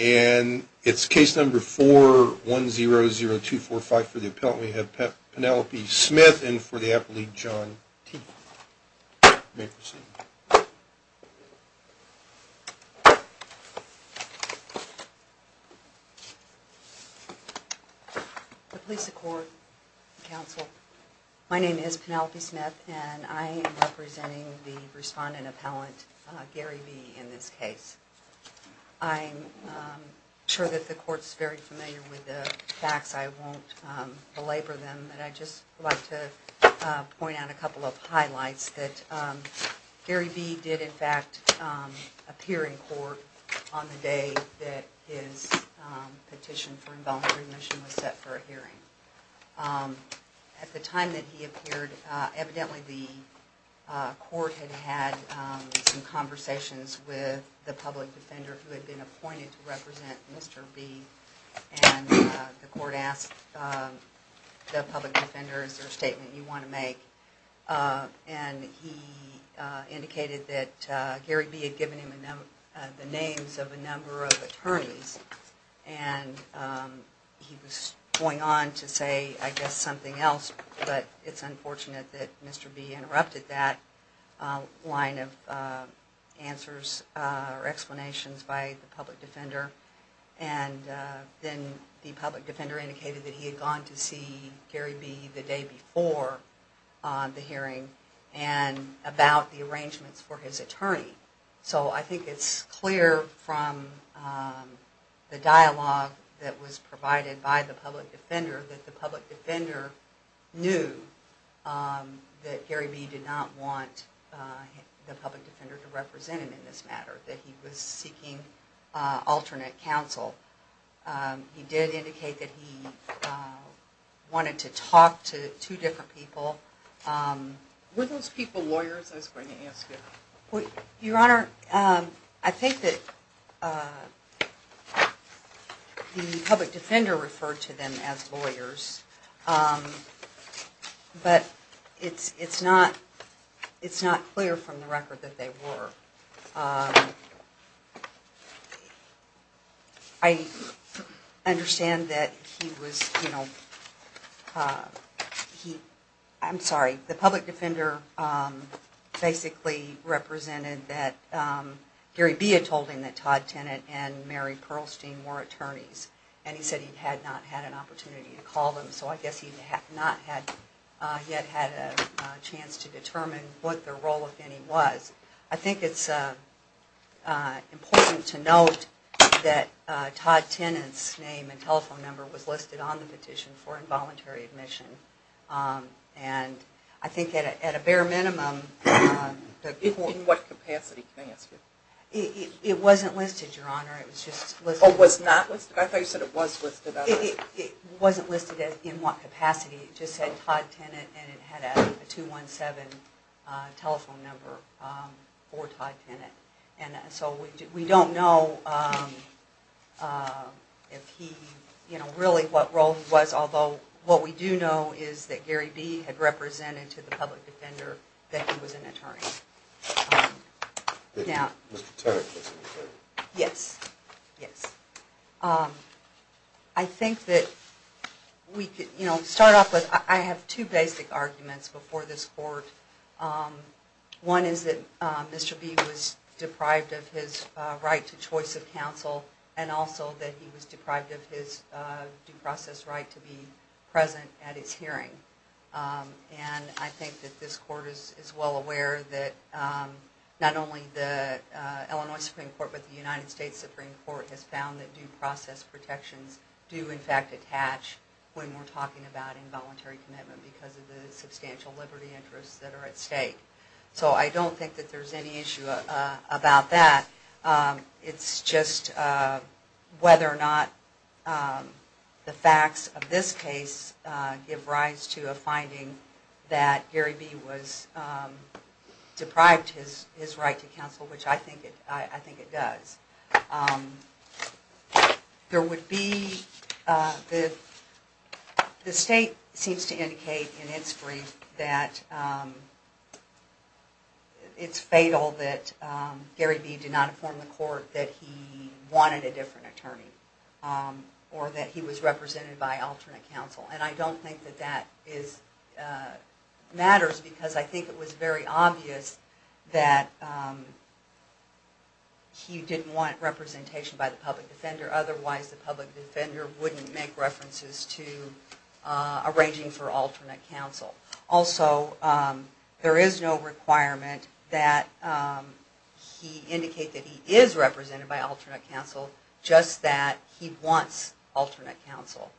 And it's case number four one zero zero two four five for the appellate we have Penelope Smith and for the appellate John T. May proceed. The police support council. My name is Penelope Smith and I am representing the respondent appellant Gary B. In this case. I'm sure that the court's very familiar with the facts. I won't belabor them. And I just like to point out a couple of highlights that Gary B. did in fact appear in court on the day that his petition for involuntary admission was set for a hearing. At the time that he appeared evidently the court had had some conversations with the public defender who had been appointed to represent Mr. B. And the court asked the public defender is there a statement you want to make. And he indicated that Gary B. had given him the names of a number of attorneys. And he was going on to say I guess something else. But it's unfortunate that Mr. B. interrupted that line of answers or explanations by the public defender. And then the public defender indicated that he had gone to see Gary B. the day before the hearing and about the arrangements for his attorney. So I think it's clear from the dialogue that was provided by the public defender that the public defender knew that Gary B. did not want the public defender to represent him in this matter. That he was seeking alternate counsel. He did indicate that he wanted to talk to two different people. Were those people lawyers I was going to ask you? Your Honor, I think that the public defender referred to them as lawyers. But it's not clear from the record that they were. I understand that he was, you know, I'm sorry, the public defender basically represented that Gary B. had told him that Todd Tennant and Mary Pearlstein were attorneys. And he said he had not had an opportunity to call them. So I guess he had not yet had a chance to determine what their role of any was. I think it's important to note that Todd Tennant's name and telephone number was listed on the petition for involuntary admission. And I think at a bare minimum... In what capacity, may I ask you? It wasn't listed, Your Honor. Oh, it was not listed? I thought you said it was listed. It wasn't listed in what capacity. It just said Todd Tennant and it had a 217 telephone number for Todd Tennant. And so we don't know if he, you know, really what role he was. Although what we do know is that Gary B. had represented to the public defender that he was an attorney. That Mr. Tennant was an attorney. Yes. Yes. I think that we could, you know, start off with... I have two basic arguments before this court. One is that Mr. B. was deprived of his right to choice of counsel. And also that he was deprived of his due process right to be present at his hearing. And I think that this court is well aware that not only the Illinois Supreme Court but the United States Supreme Court has found that due process protections do in fact attach when we're talking about involuntary commitment because of the substantial liberty interests that are at stake. So I don't think that there's any issue about that. It's just whether or not the facts of this case give rise to a finding that Gary B. was deprived his right to counsel, which I think it does. There would be... The state seems to indicate in its brief that it's fatal that Gary B. did not inform the court that he wanted a different attorney or that he was represented by alternate counsel. And I don't think that that matters because I think it was very obvious that he didn't want representation by the public defender otherwise the public defender wouldn't make references to arranging for alternate counsel. Also there is no requirement that he indicate that he is represented by alternate counsel, just that he wants alternate counsel.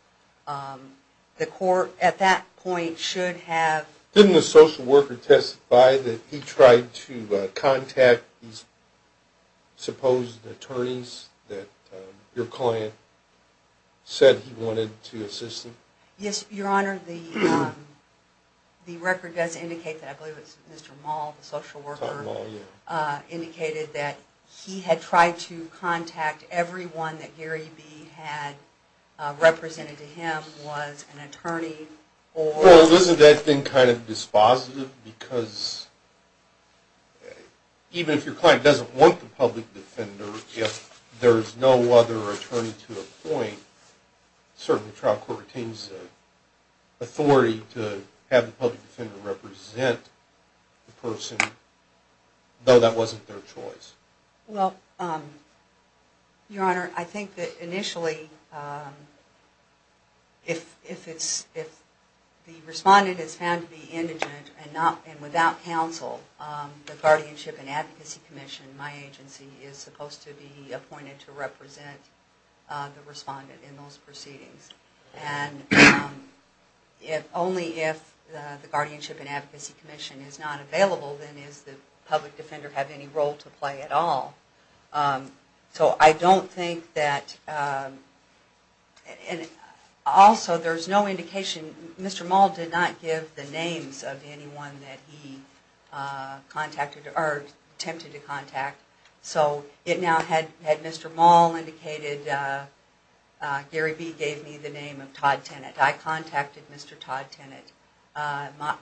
The court at that point should have... Do you identify that he tried to contact these supposed attorneys that your client said he wanted to assist them? Yes, Your Honor. The record does indicate that, I believe it was Mr. Maul, the social worker, indicated that he had tried to contact everyone that Gary B. had represented to him was an attorney or... Well, isn't that thing kind of dispositive because even if your client doesn't want the public defender, if there is no other attorney to appoint, certainly the trial court retains the authority to have the public defender represent the person, though that wasn't their choice. Well, Your Honor, I think that initially if the respondent is found to be indigent and without counsel, the Guardianship and Advocacy Commission, my agency, is supposed to be appointed to represent the respondent in those proceedings. And only if the Guardianship and Advocacy Commission is not available, then does the public defender have any role to play at all. So I don't think that... Also, there is no indication... Mr. Maul did not give the names of anyone that he attempted to contact. So it now had Mr. Maul indicated Gary B gave me the name of Todd Tennant. I contacted Mr. Todd Tennant.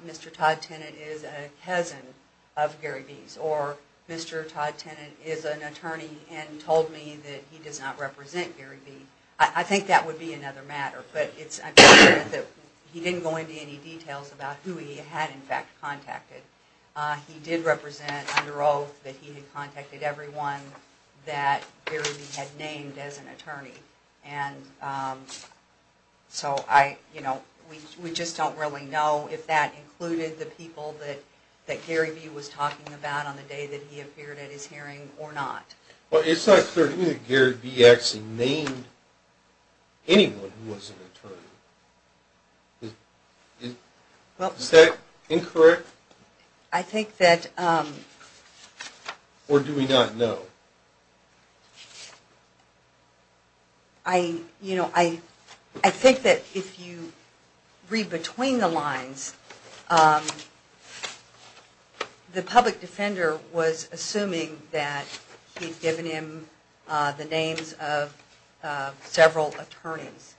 Mr. Todd Tennant is a cousin of Gary B's, or Mr. Todd Tennant is an attorney and told me that he does not represent Gary B. I think that would be another matter, but I'm sure that he didn't go into any details about who he had in fact contacted. He did represent, under oath, that he had contacted everyone that Gary B had named as an attorney. So we just don't really know if that included the people that Gary B was talking about on the day that he appeared at his hearing or not. It's not clear to me that Gary B actually named anyone who was an attorney. Is that incorrect? I think that... Or do we not know? I think that if you read between the lines, the public defender was assuming that he had given him the names of several attorneys.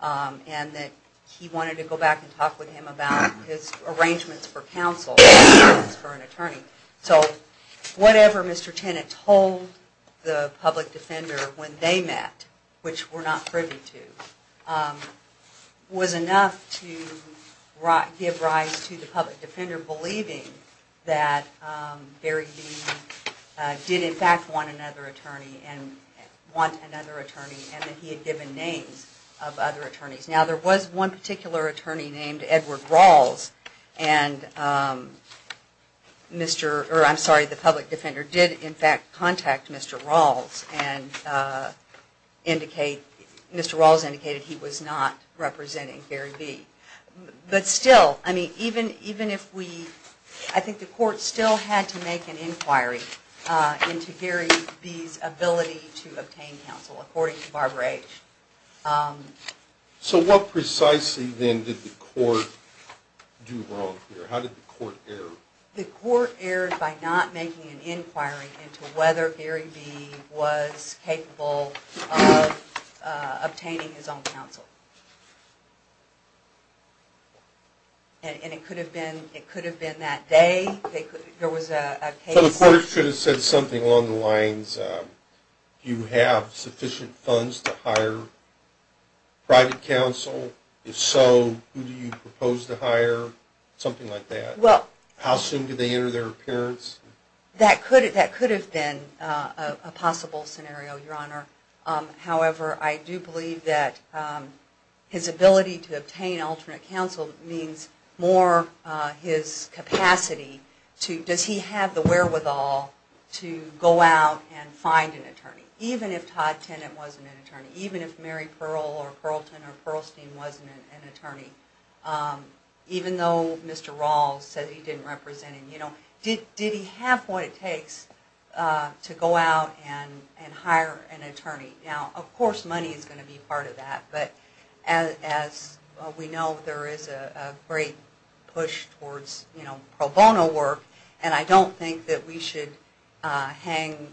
And that he wanted to go back and talk with him about his arrangements for counsel for an attorney. So whatever Mr. Tennant told the public defender when they met, which we're not privy to, was enough to give rise to the public defender believing that Gary B did in fact want another attorney and that he had given names of other attorneys. Now there was one particular attorney named Edward Rawls, and the public defender did in fact contact Mr. Rawls and Mr. Rawls indicated that he was not representing Gary B. But still, I mean, even if we... I think the court still had to make an inquiry into Gary B's ability to obtain counsel according to Barbara H. So what precisely then did the court do wrong here? How did the court err? The court erred by not making an inquiry into whether Gary B was capable of obtaining his own counsel. And it could have been that day. There was a case... So the court should have said something along the lines, do you have sufficient funds to hire private counsel? If so, who do you propose to hire? Something like that. Well... How soon did they enter their appearance? That could have been a possible scenario, Your Honor. However, I do believe that his ability to obtain alternate counsel means more his capacity to... Does he have the wherewithal to go out and find an attorney? Even if Todd Tennant wasn't an attorney. Even if Mary Pearl or Pearlton or Pearlstein wasn't an attorney. Even though Mr. Rawls said he didn't represent him. Did he have what it takes to go out and hire an attorney? Now, of course money is going to be part of that. But as we know, there is a great push towards pro bono work. And I don't think that we should hang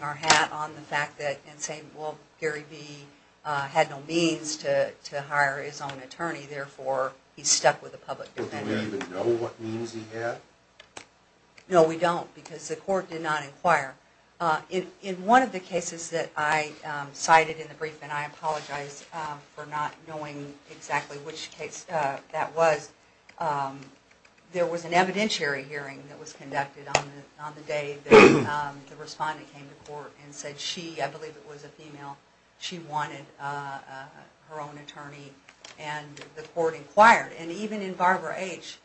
our hat on the fact that... And say, well, Gary B had no means to hire his own attorney. Therefore, he's stuck with a public defender. Well, do we even know what means he had? No, we don't, because the court did not inquire. In one of the cases that I cited in the brief, and I apologize for not knowing exactly which case that was, there was an evidentiary hearing that was conducted on the day the respondent came to court and said she, I believe it was a female, she wanted her own attorney. And the court inquired. And even in Barbara H.,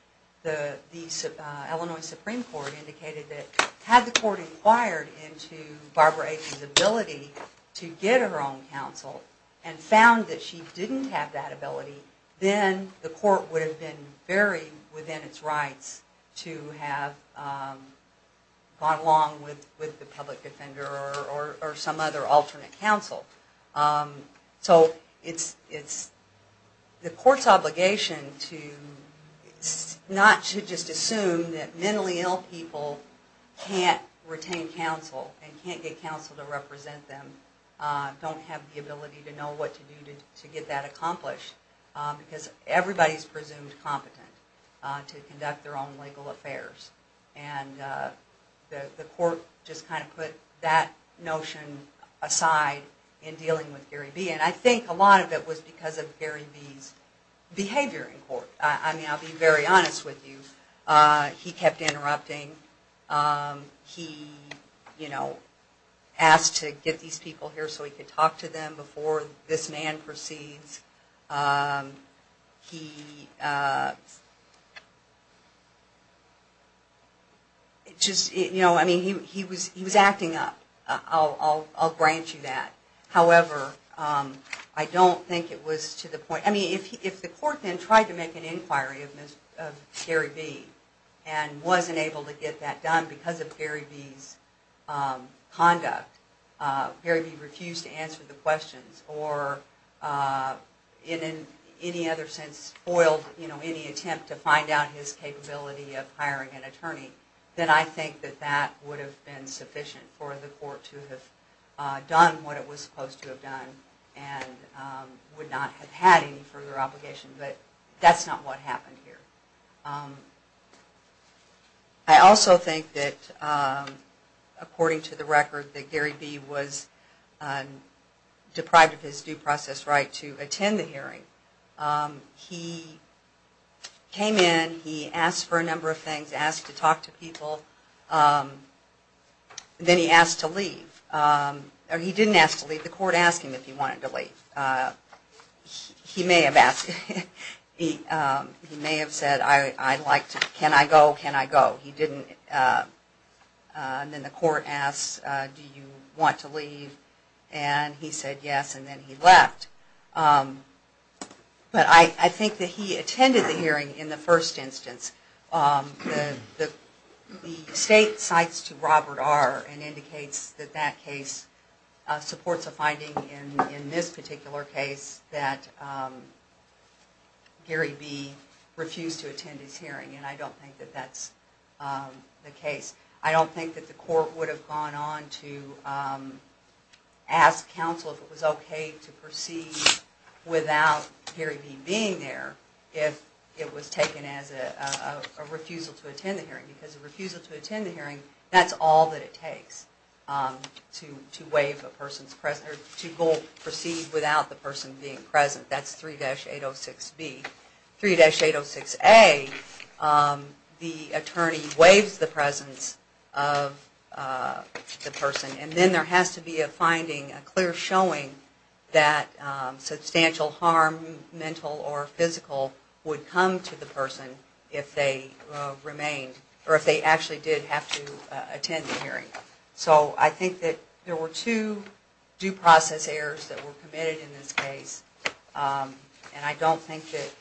the Illinois Supreme Court indicated that had the court inquired into Barbara H.'s ability to get her own counsel and found that she didn't have that ability, then the court would have been very within its rights to have gone along with the public defender or some other alternate counsel. So it's the court's obligation not to just assume that mentally ill people can't retain counsel and can't get counsel to represent them, don't have the ability to know what to do to get that accomplished. Because everybody's presumed competent to conduct their own legal affairs. And the court just kind of put that notion aside in dealing with Gary B. And I think a lot of it was because of Gary B.'s behavior in court. I mean, I'll be very honest with you, he kept interrupting. He, you know, asked to get these people here so he could talk to them before this man proceeds. He, just, you know, I mean, he was acting up. I'll grant you that. However, I don't think it was to the point. I mean, if the court then tried to make an inquiry of Gary B. and wasn't able to get that done because of Gary B.'s conduct, Gary B. refused to answer the questions, or in any other sense, spoiled any attempt to find out his capability of hiring an attorney, then I think that that would have been sufficient for the court to have done what it was supposed to have done and would not have had any further obligation. But that's not what happened here. I also think that, according to the record, that Gary B. was deprived of his due process right to attend the hearing. He came in, he asked for a number of things, asked to talk to people, then he asked to leave. Or he didn't ask to leave, the court asked him if he wanted to leave. He may have asked, he may have said, I'd like to, can I go, can I go? He didn't. And then the court asked, do you want to leave? And he said yes, and then he left. But I think that he attended the hearing in the first instance. The state cites to Robert R. and indicates that that case supports a finding in this particular case that Gary B. refused to attend his hearing. And I don't think that that's the case. I don't think that the court would have gone on to ask counsel if it was okay to proceed without Gary B. being there if it was taken as a refusal to attend the hearing. Because a refusal to attend the hearing, that's all that it takes to waive a person's, to go proceed without the person being present. That's 3-806B. 3-806A, the attorney waives the presence of the person, and then there has to be a finding, a clear showing, that substantial harm, mental or physical, would come to the person if they remained, or if they actually did have to attend the hearing. So I think that there were two due process errors that were committed in this case, and I don't think that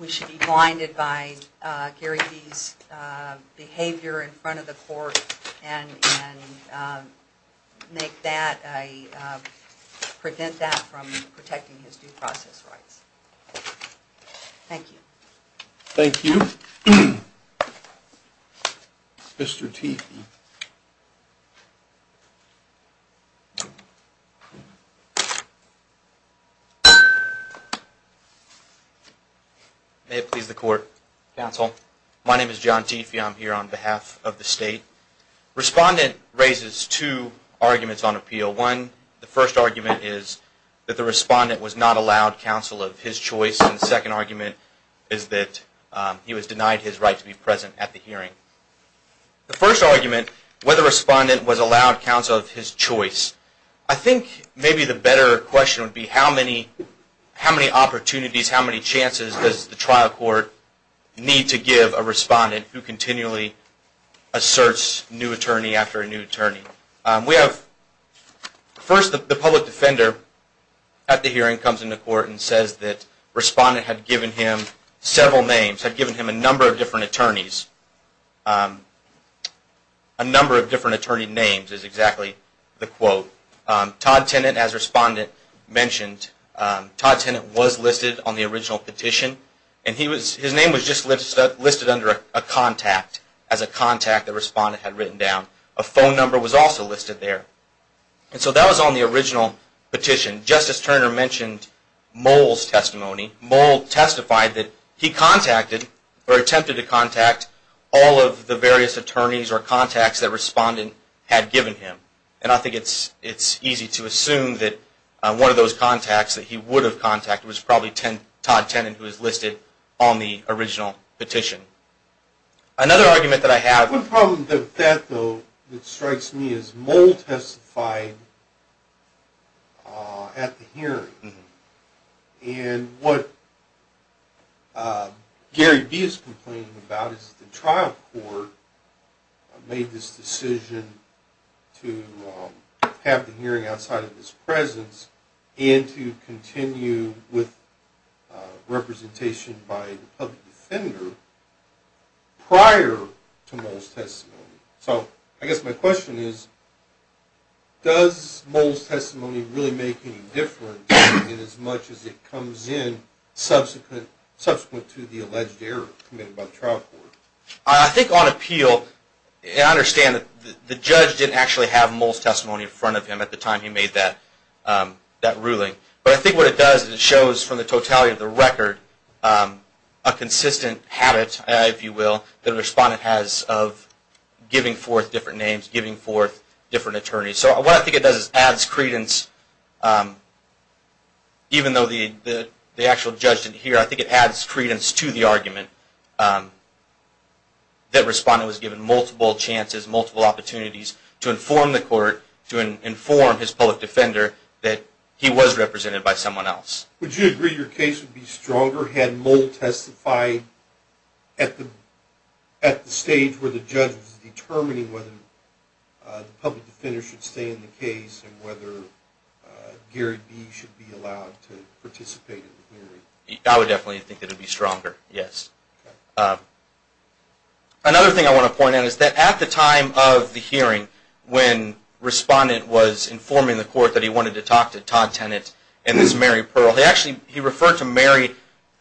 we should be blinded by Gary B.'s behavior in front of the court and make that, prevent that from protecting his due process rights. Thank you. Thank you. Mr. Teefee. May it please the court. Counsel. My name is John Teefee. I'm here on behalf of the state. Respondent raises two arguments on appeal. One, the first argument is that the respondent was not allowed counsel of his choice, and the second argument is that he was denied his right to be present at the hearing. The first argument, whether the respondent was allowed counsel of his choice, I think maybe the better question would be how many opportunities, how many chances does the trial court need to give a respondent who continually asserts new attorney after a new attorney. First, the public defender at the hearing comes into court and says that the respondent had given him several names, had given him a number of different attorneys. A number of different attorney names is exactly the quote. Todd Tennant, as the respondent mentioned, Todd Tennant was listed on the original petition, and his name was just listed under a contact, as a contact the respondent had written down. A phone number was also listed there. So that was on the original petition. Justice Turner mentioned Mould's testimony. Mould testified that he contacted, or attempted to contact, all of the various attorneys or contacts the respondent had given him. And I think it's easy to assume that one of those contacts that he would have contacted was probably Todd Tennant, who was listed on the original petition. Another argument that I have... One problem with that, though, that strikes me, is Mould testified at the hearing. And what Gary B is complaining about is that the trial court made this decision to have the hearing outside of his presence and to continue with representation by the public defender prior to Mould's testimony. So I guess my question is, does Mould's testimony really make any difference inasmuch as it comes in subsequent to the alleged error committed by the trial court? I think on appeal, I understand that the judge didn't actually have Mould's testimony in front of him at the time he made that ruling. But I think what it does is it shows, from the totality of the record, a consistent habit, if you will, that a respondent has of giving forth different names, giving forth different attorneys. So what I think it does is adds credence, even though the actual judge didn't hear, I think it adds credence to the argument that a respondent was given multiple chances, multiple opportunities to inform the court, to inform his public defender that he was represented by someone else. Would you agree your case would be stronger had Mould testified at the stage where the judge was determining whether the public defender should stay in the case and whether Gary B should be allowed to participate in the hearing? I would definitely think that it would be stronger, yes. Another thing I want to point out is that at the time of the hearing, when respondent was informing the court that he wanted to talk to Todd Tennant and this Mary Pearl, he actually referred to Mary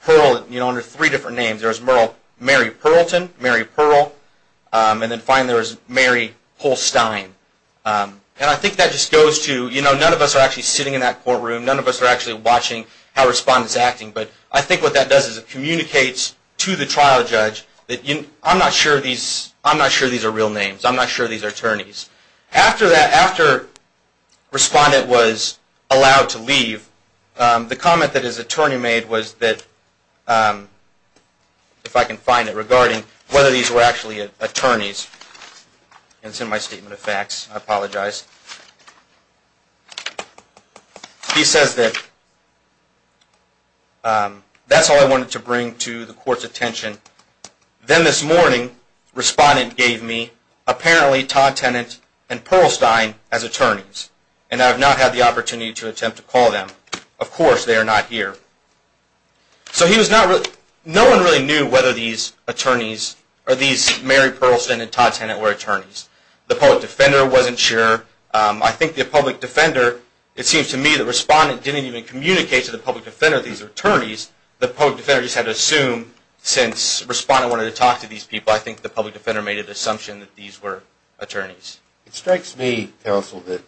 Pearl under three different names. There was Mary Pearlton, Mary Pearl, and then finally there was Mary Polstein. And I think that just goes to, you know, none of us are actually sitting in that courtroom, none of us are actually watching how respondent is acting, but I think what that does is it communicates to the trial judge that I'm not sure these are real names, I'm not sure these are attorneys. After respondent was allowed to leave, the comment that his attorney made was that, if I can find it regarding whether these were actually attorneys, and it's in my statement of facts, I apologize. He says that that's all I wanted to bring to the court's attention. Then this morning, respondent gave me apparently Todd Tennant and Pearlstein as attorneys, and I have not had the opportunity to attempt to call them. Of course they are not here. So no one really knew whether these attorneys, or these Mary Pearlston and Todd Tennant were attorneys. The public defender wasn't sure. I think the public defender, it seems to me, the respondent didn't even communicate to the public defender that these are attorneys. The public defender just had to assume, since respondent wanted to talk to these people, It strikes me, counsel, that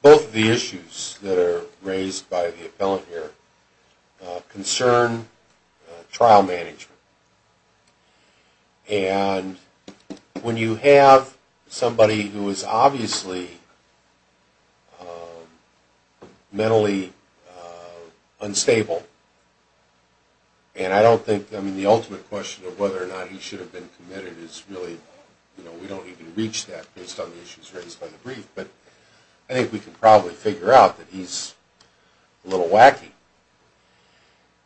both of the issues that are raised by the appellant here concern trial management. And when you have somebody who is obviously mentally unstable, and I don't think the ultimate question of whether or not he should have been committed is really, we don't even reach that based on the issues raised by the brief, but I think we can probably figure out that he's a little wacky.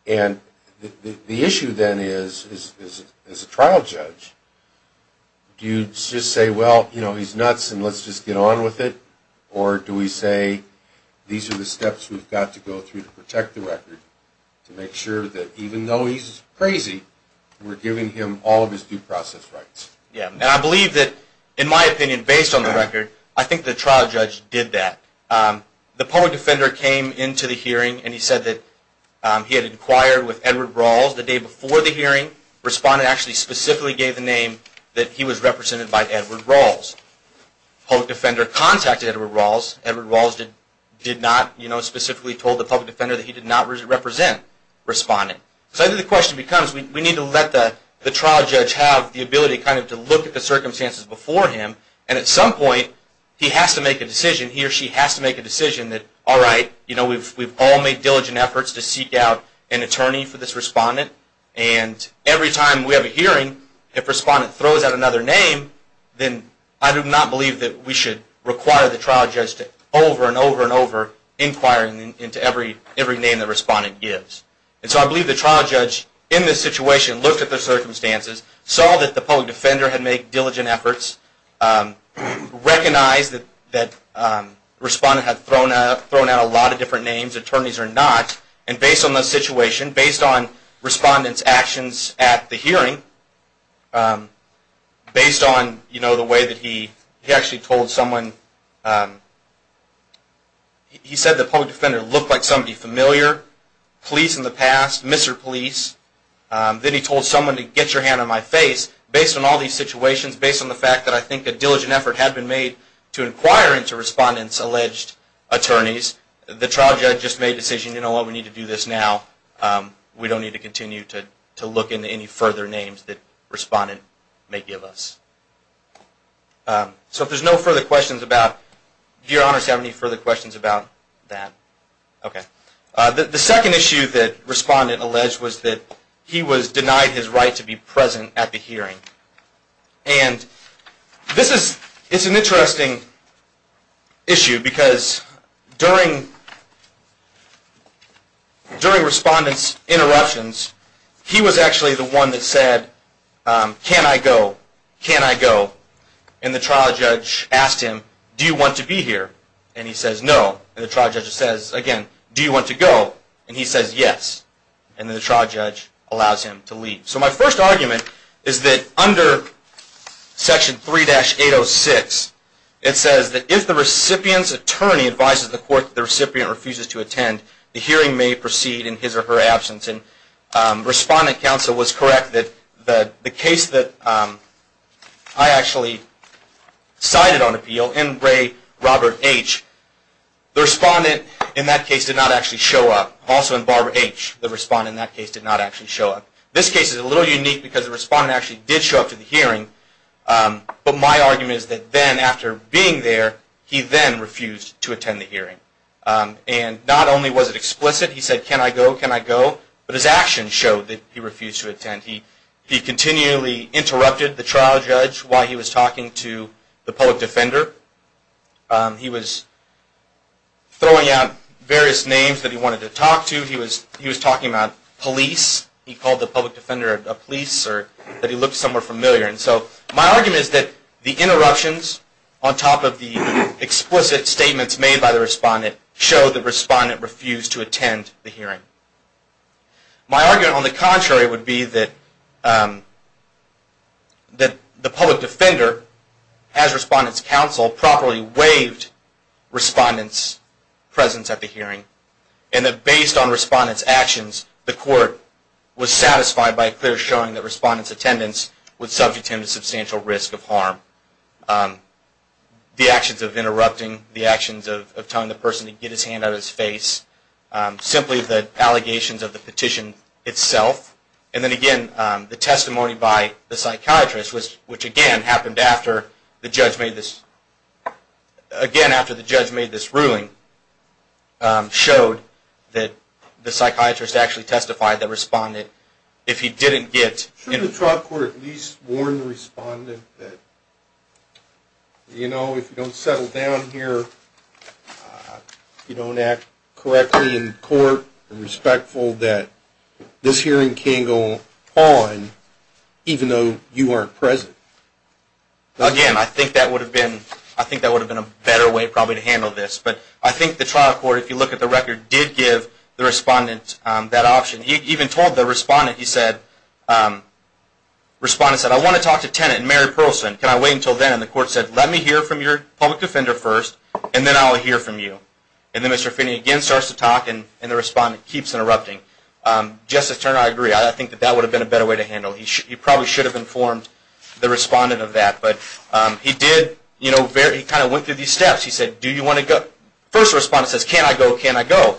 And the issue then is, as a trial judge, do you just say, well, he's nuts and let's just get on with it, or do we say, these are the steps we've got to go through to protect the record to make sure that even though he's crazy, we're giving him all of his due process rights. And I believe that, in my opinion, based on the record, I think the trial judge did that. The public defender came into the hearing and he said that he had inquired with Edward Rawls the day before the hearing. Respondent actually specifically gave the name that he was represented by Edward Rawls. Public defender contacted Edward Rawls. Edward Rawls did not specifically tell the public defender that he did not represent respondent. So I think the question becomes, we need to let the trial judge have the ability to look at the circumstances before him, and at some point he has to make a decision, he or she has to make a decision that, all right, we've all made diligent efforts to seek out an attorney for this respondent, and every time we have a hearing, if respondent throws out another name, then I do not believe that we should require the trial judge to over and over and over inquire into every name that respondent gives. And so I believe the trial judge, in this situation, looked at the circumstances, saw that the public defender had made diligent efforts, recognized that respondent had thrown out a lot of different names, attorneys or not, and based on the situation, based on respondent's actions at the hearing, based on the way that he actually told someone, he said the public defender looked like somebody familiar, police in the past, Mr. Police. Then he told someone to get your hand on my face. Based on all these situations, based on the fact that I think a diligent effort had been made to inquire into respondent's alleged attorneys, the trial judge just made a decision, you know what, we need to do this now. We don't need to continue to look into any further names that respondent may give us. So if there's no further questions about, do your honors have any further questions about that? Okay. The second issue that respondent alleged was that he was denied his right to be present at the hearing. And this is an interesting issue because during respondent's interruptions, he was actually the one that said, can I go? Can I go? And the trial judge asked him, do you want to be here? And he says no. And the trial judge says again, do you want to go? And he says yes. And the trial judge allows him to leave. So my first argument is that under section 3-806, it says that if the recipient's attorney advises the court that the recipient refuses to attend, the hearing may proceed in his or her absence. Respondent counsel was correct that the case that I actually cited on appeal in Ray Robert H., the respondent in that case did not actually show up. Also in Barbara H., the respondent in that case did not actually show up. This case is a little unique because the respondent actually did show up to the hearing, but my argument is that then after being there, he then refused to attend the hearing. And not only was it explicit, he said, can I go? Can I go? But his actions showed that he refused to attend. He continually interrupted the trial judge while he was talking to the public defender. He was throwing out various names that he wanted to talk to. He was talking about police. He called the public defender a police or that he looked somewhere familiar. And so my argument is that the interruptions on top of the explicit statements made by the respondent show the respondent refused to attend the hearing. My argument on the contrary would be that the public defender, as respondent's counsel, properly waived respondent's presence at the hearing and that based on respondent's actions, the court was satisfied by a clear showing that respondent's attendance would subject him to substantial risk of harm. The actions of interrupting, the actions of telling the person to get his hand out of his face, simply the allegations of the petition itself. And then again, the testimony by the psychiatrist, which again happened after the judge made this ruling, showed that the psychiatrist actually testified that respondent, if he didn't get in the trial court at least warned the respondent that, you know, if you don't settle down here, you don't act correctly in court, you're respectful that this hearing can go on even though you aren't present. Again, I think that would have been a better way probably to handle this. But I think the trial court, if you look at the record, did give the respondent that option. He even told the respondent, he said, respondent said, I want to talk to tenant Mary Pearlson. Can I wait until then? And the court said, let me hear from your public defender first, and then I'll hear from you. And then Mr. Finney again starts to talk, and the respondent keeps interrupting. Justice Turner, I agree. I think that that would have been a better way to handle it. He probably should have informed the respondent of that. But he did, you know, he kind of went through these steps. He said, do you want to go? First respondent says, can I go? Can I go?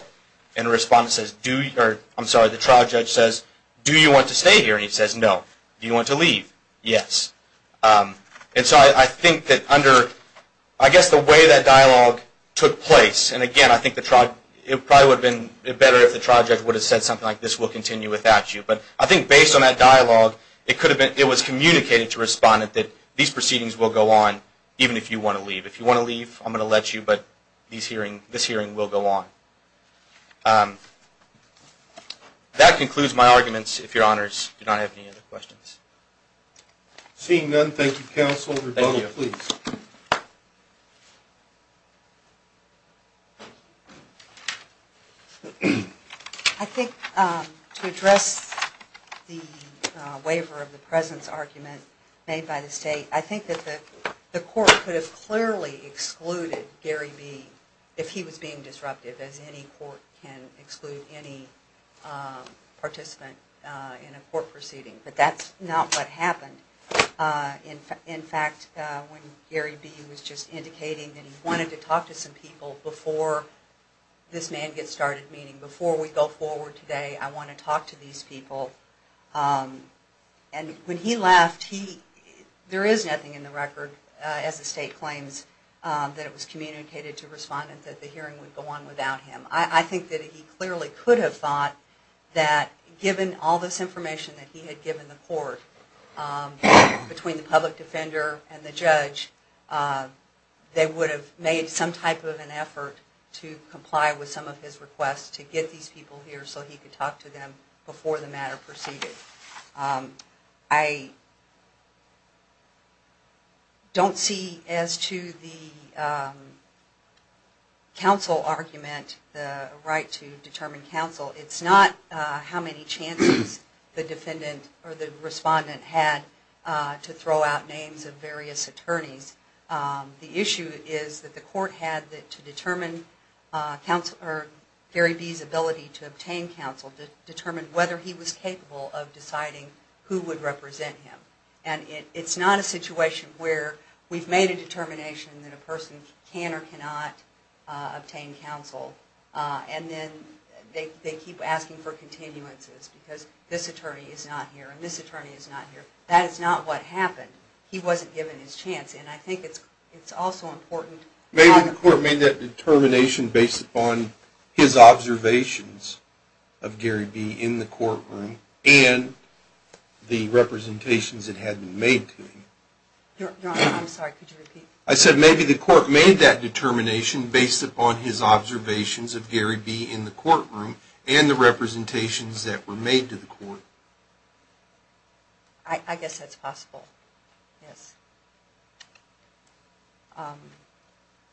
And the respondent says, do you, or I'm sorry, the trial judge says, do you want to stay here? And he says, no. Do you want to leave? Yes. And so I think that under, I guess the way that dialogue took place, and again, I think the trial, it probably would have been better if the trial judge would have said something like, this will continue without you. But I think based on that dialogue, it could have been, it was communicated to respondent that these proceedings will go on even if you want to leave. If you want to leave, I'm going to let you, but this hearing will go on. That concludes my arguments. If your honors, do you not have any other questions? Seeing none, thank you, counsel. Rebuttal, please. I think to address the waiver of the presence argument made by the state, I think that the court could have clearly excluded Gary B. if he was being disruptive, as any court can exclude any participant in a court proceeding. But that's not what happened. In fact, when Gary B. was just indicating that he wanted to talk to some people before this man gets started, meaning before we go forward today, I want to talk to these people. And when he left, there is nothing in the record, as the state claims, that it was communicated to respondent that the hearing would go on without him. I think that he clearly could have thought that given all this information that he had given the court between the public defender and the judge, they would have made some type of an effort to comply with some of his requests to get these people here so he could talk to them before the matter proceeded. I don't see as to the counsel argument, the right to determine counsel. It's not how many chances the defendant or the respondent had to throw out names of various attorneys. The issue is that the court had to determine Gary B.'s ability to decide who would represent him. It's not a situation where we've made a determination that a person can or cannot obtain counsel and then they keep asking for continuances because this attorney is not here and this attorney is not here. That is not what happened. He wasn't given his chance. I think it's also important. Maybe the court made that determination based upon his observations of Gary B. in the courtroom and the representations that had been made to him. Your Honor, I'm sorry. Could you repeat? I said maybe the court made that determination based upon his observations of Gary B. in the courtroom and the representations that were made to the court. I guess that's possible. Yes.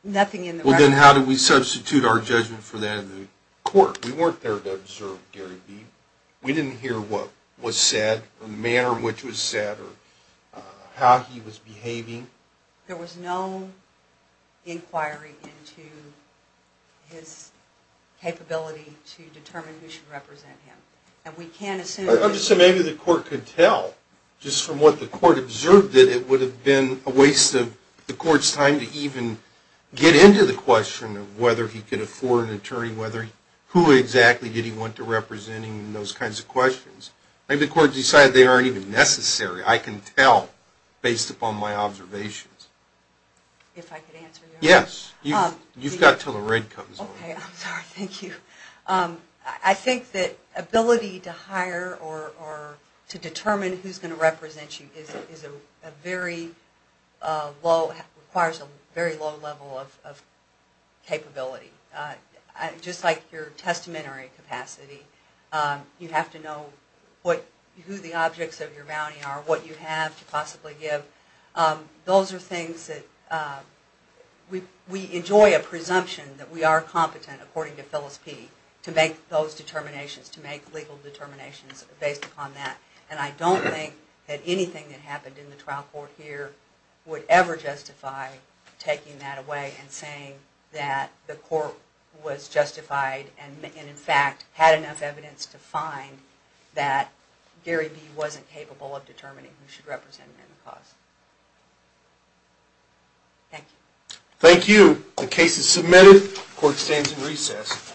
Nothing in the record. Well, then how do we substitute our judgment for that in the court? We weren't there to observe Gary B. We didn't hear what was said or the manner in which it was said or how he was behaving. There was no inquiry into his capability to determine who should represent him. I'm just saying maybe the court could tell just from what the court observed that it would have been a waste of the court's time to even get into the question of whether he could afford an attorney, who exactly did he want to represent him and those kinds of questions. Maybe the court decided they aren't even necessary. I can tell based upon my observations. If I could answer your question. Yes. You've got until the red comes on. Okay. I'm sorry. Thank you. I think that ability to hire or to determine who's going to represent you is a very low, requires a very low level of capability. Just like your testamentary capacity, you have to know who the objects of your bounty are, what you have to possibly give. Those are things that we enjoy a presumption that we are competent, according to Phyllis P., to make those determinations, to make legal determinations based upon that. I don't think that anything that happened in the trial court here would ever justify taking that away and saying that the court was justified and, in fact, had enough evidence to find that Gary B. wasn't capable of determining who should represent him in the cause. Thank you. Thank you. The case is submitted. The court stands in recess.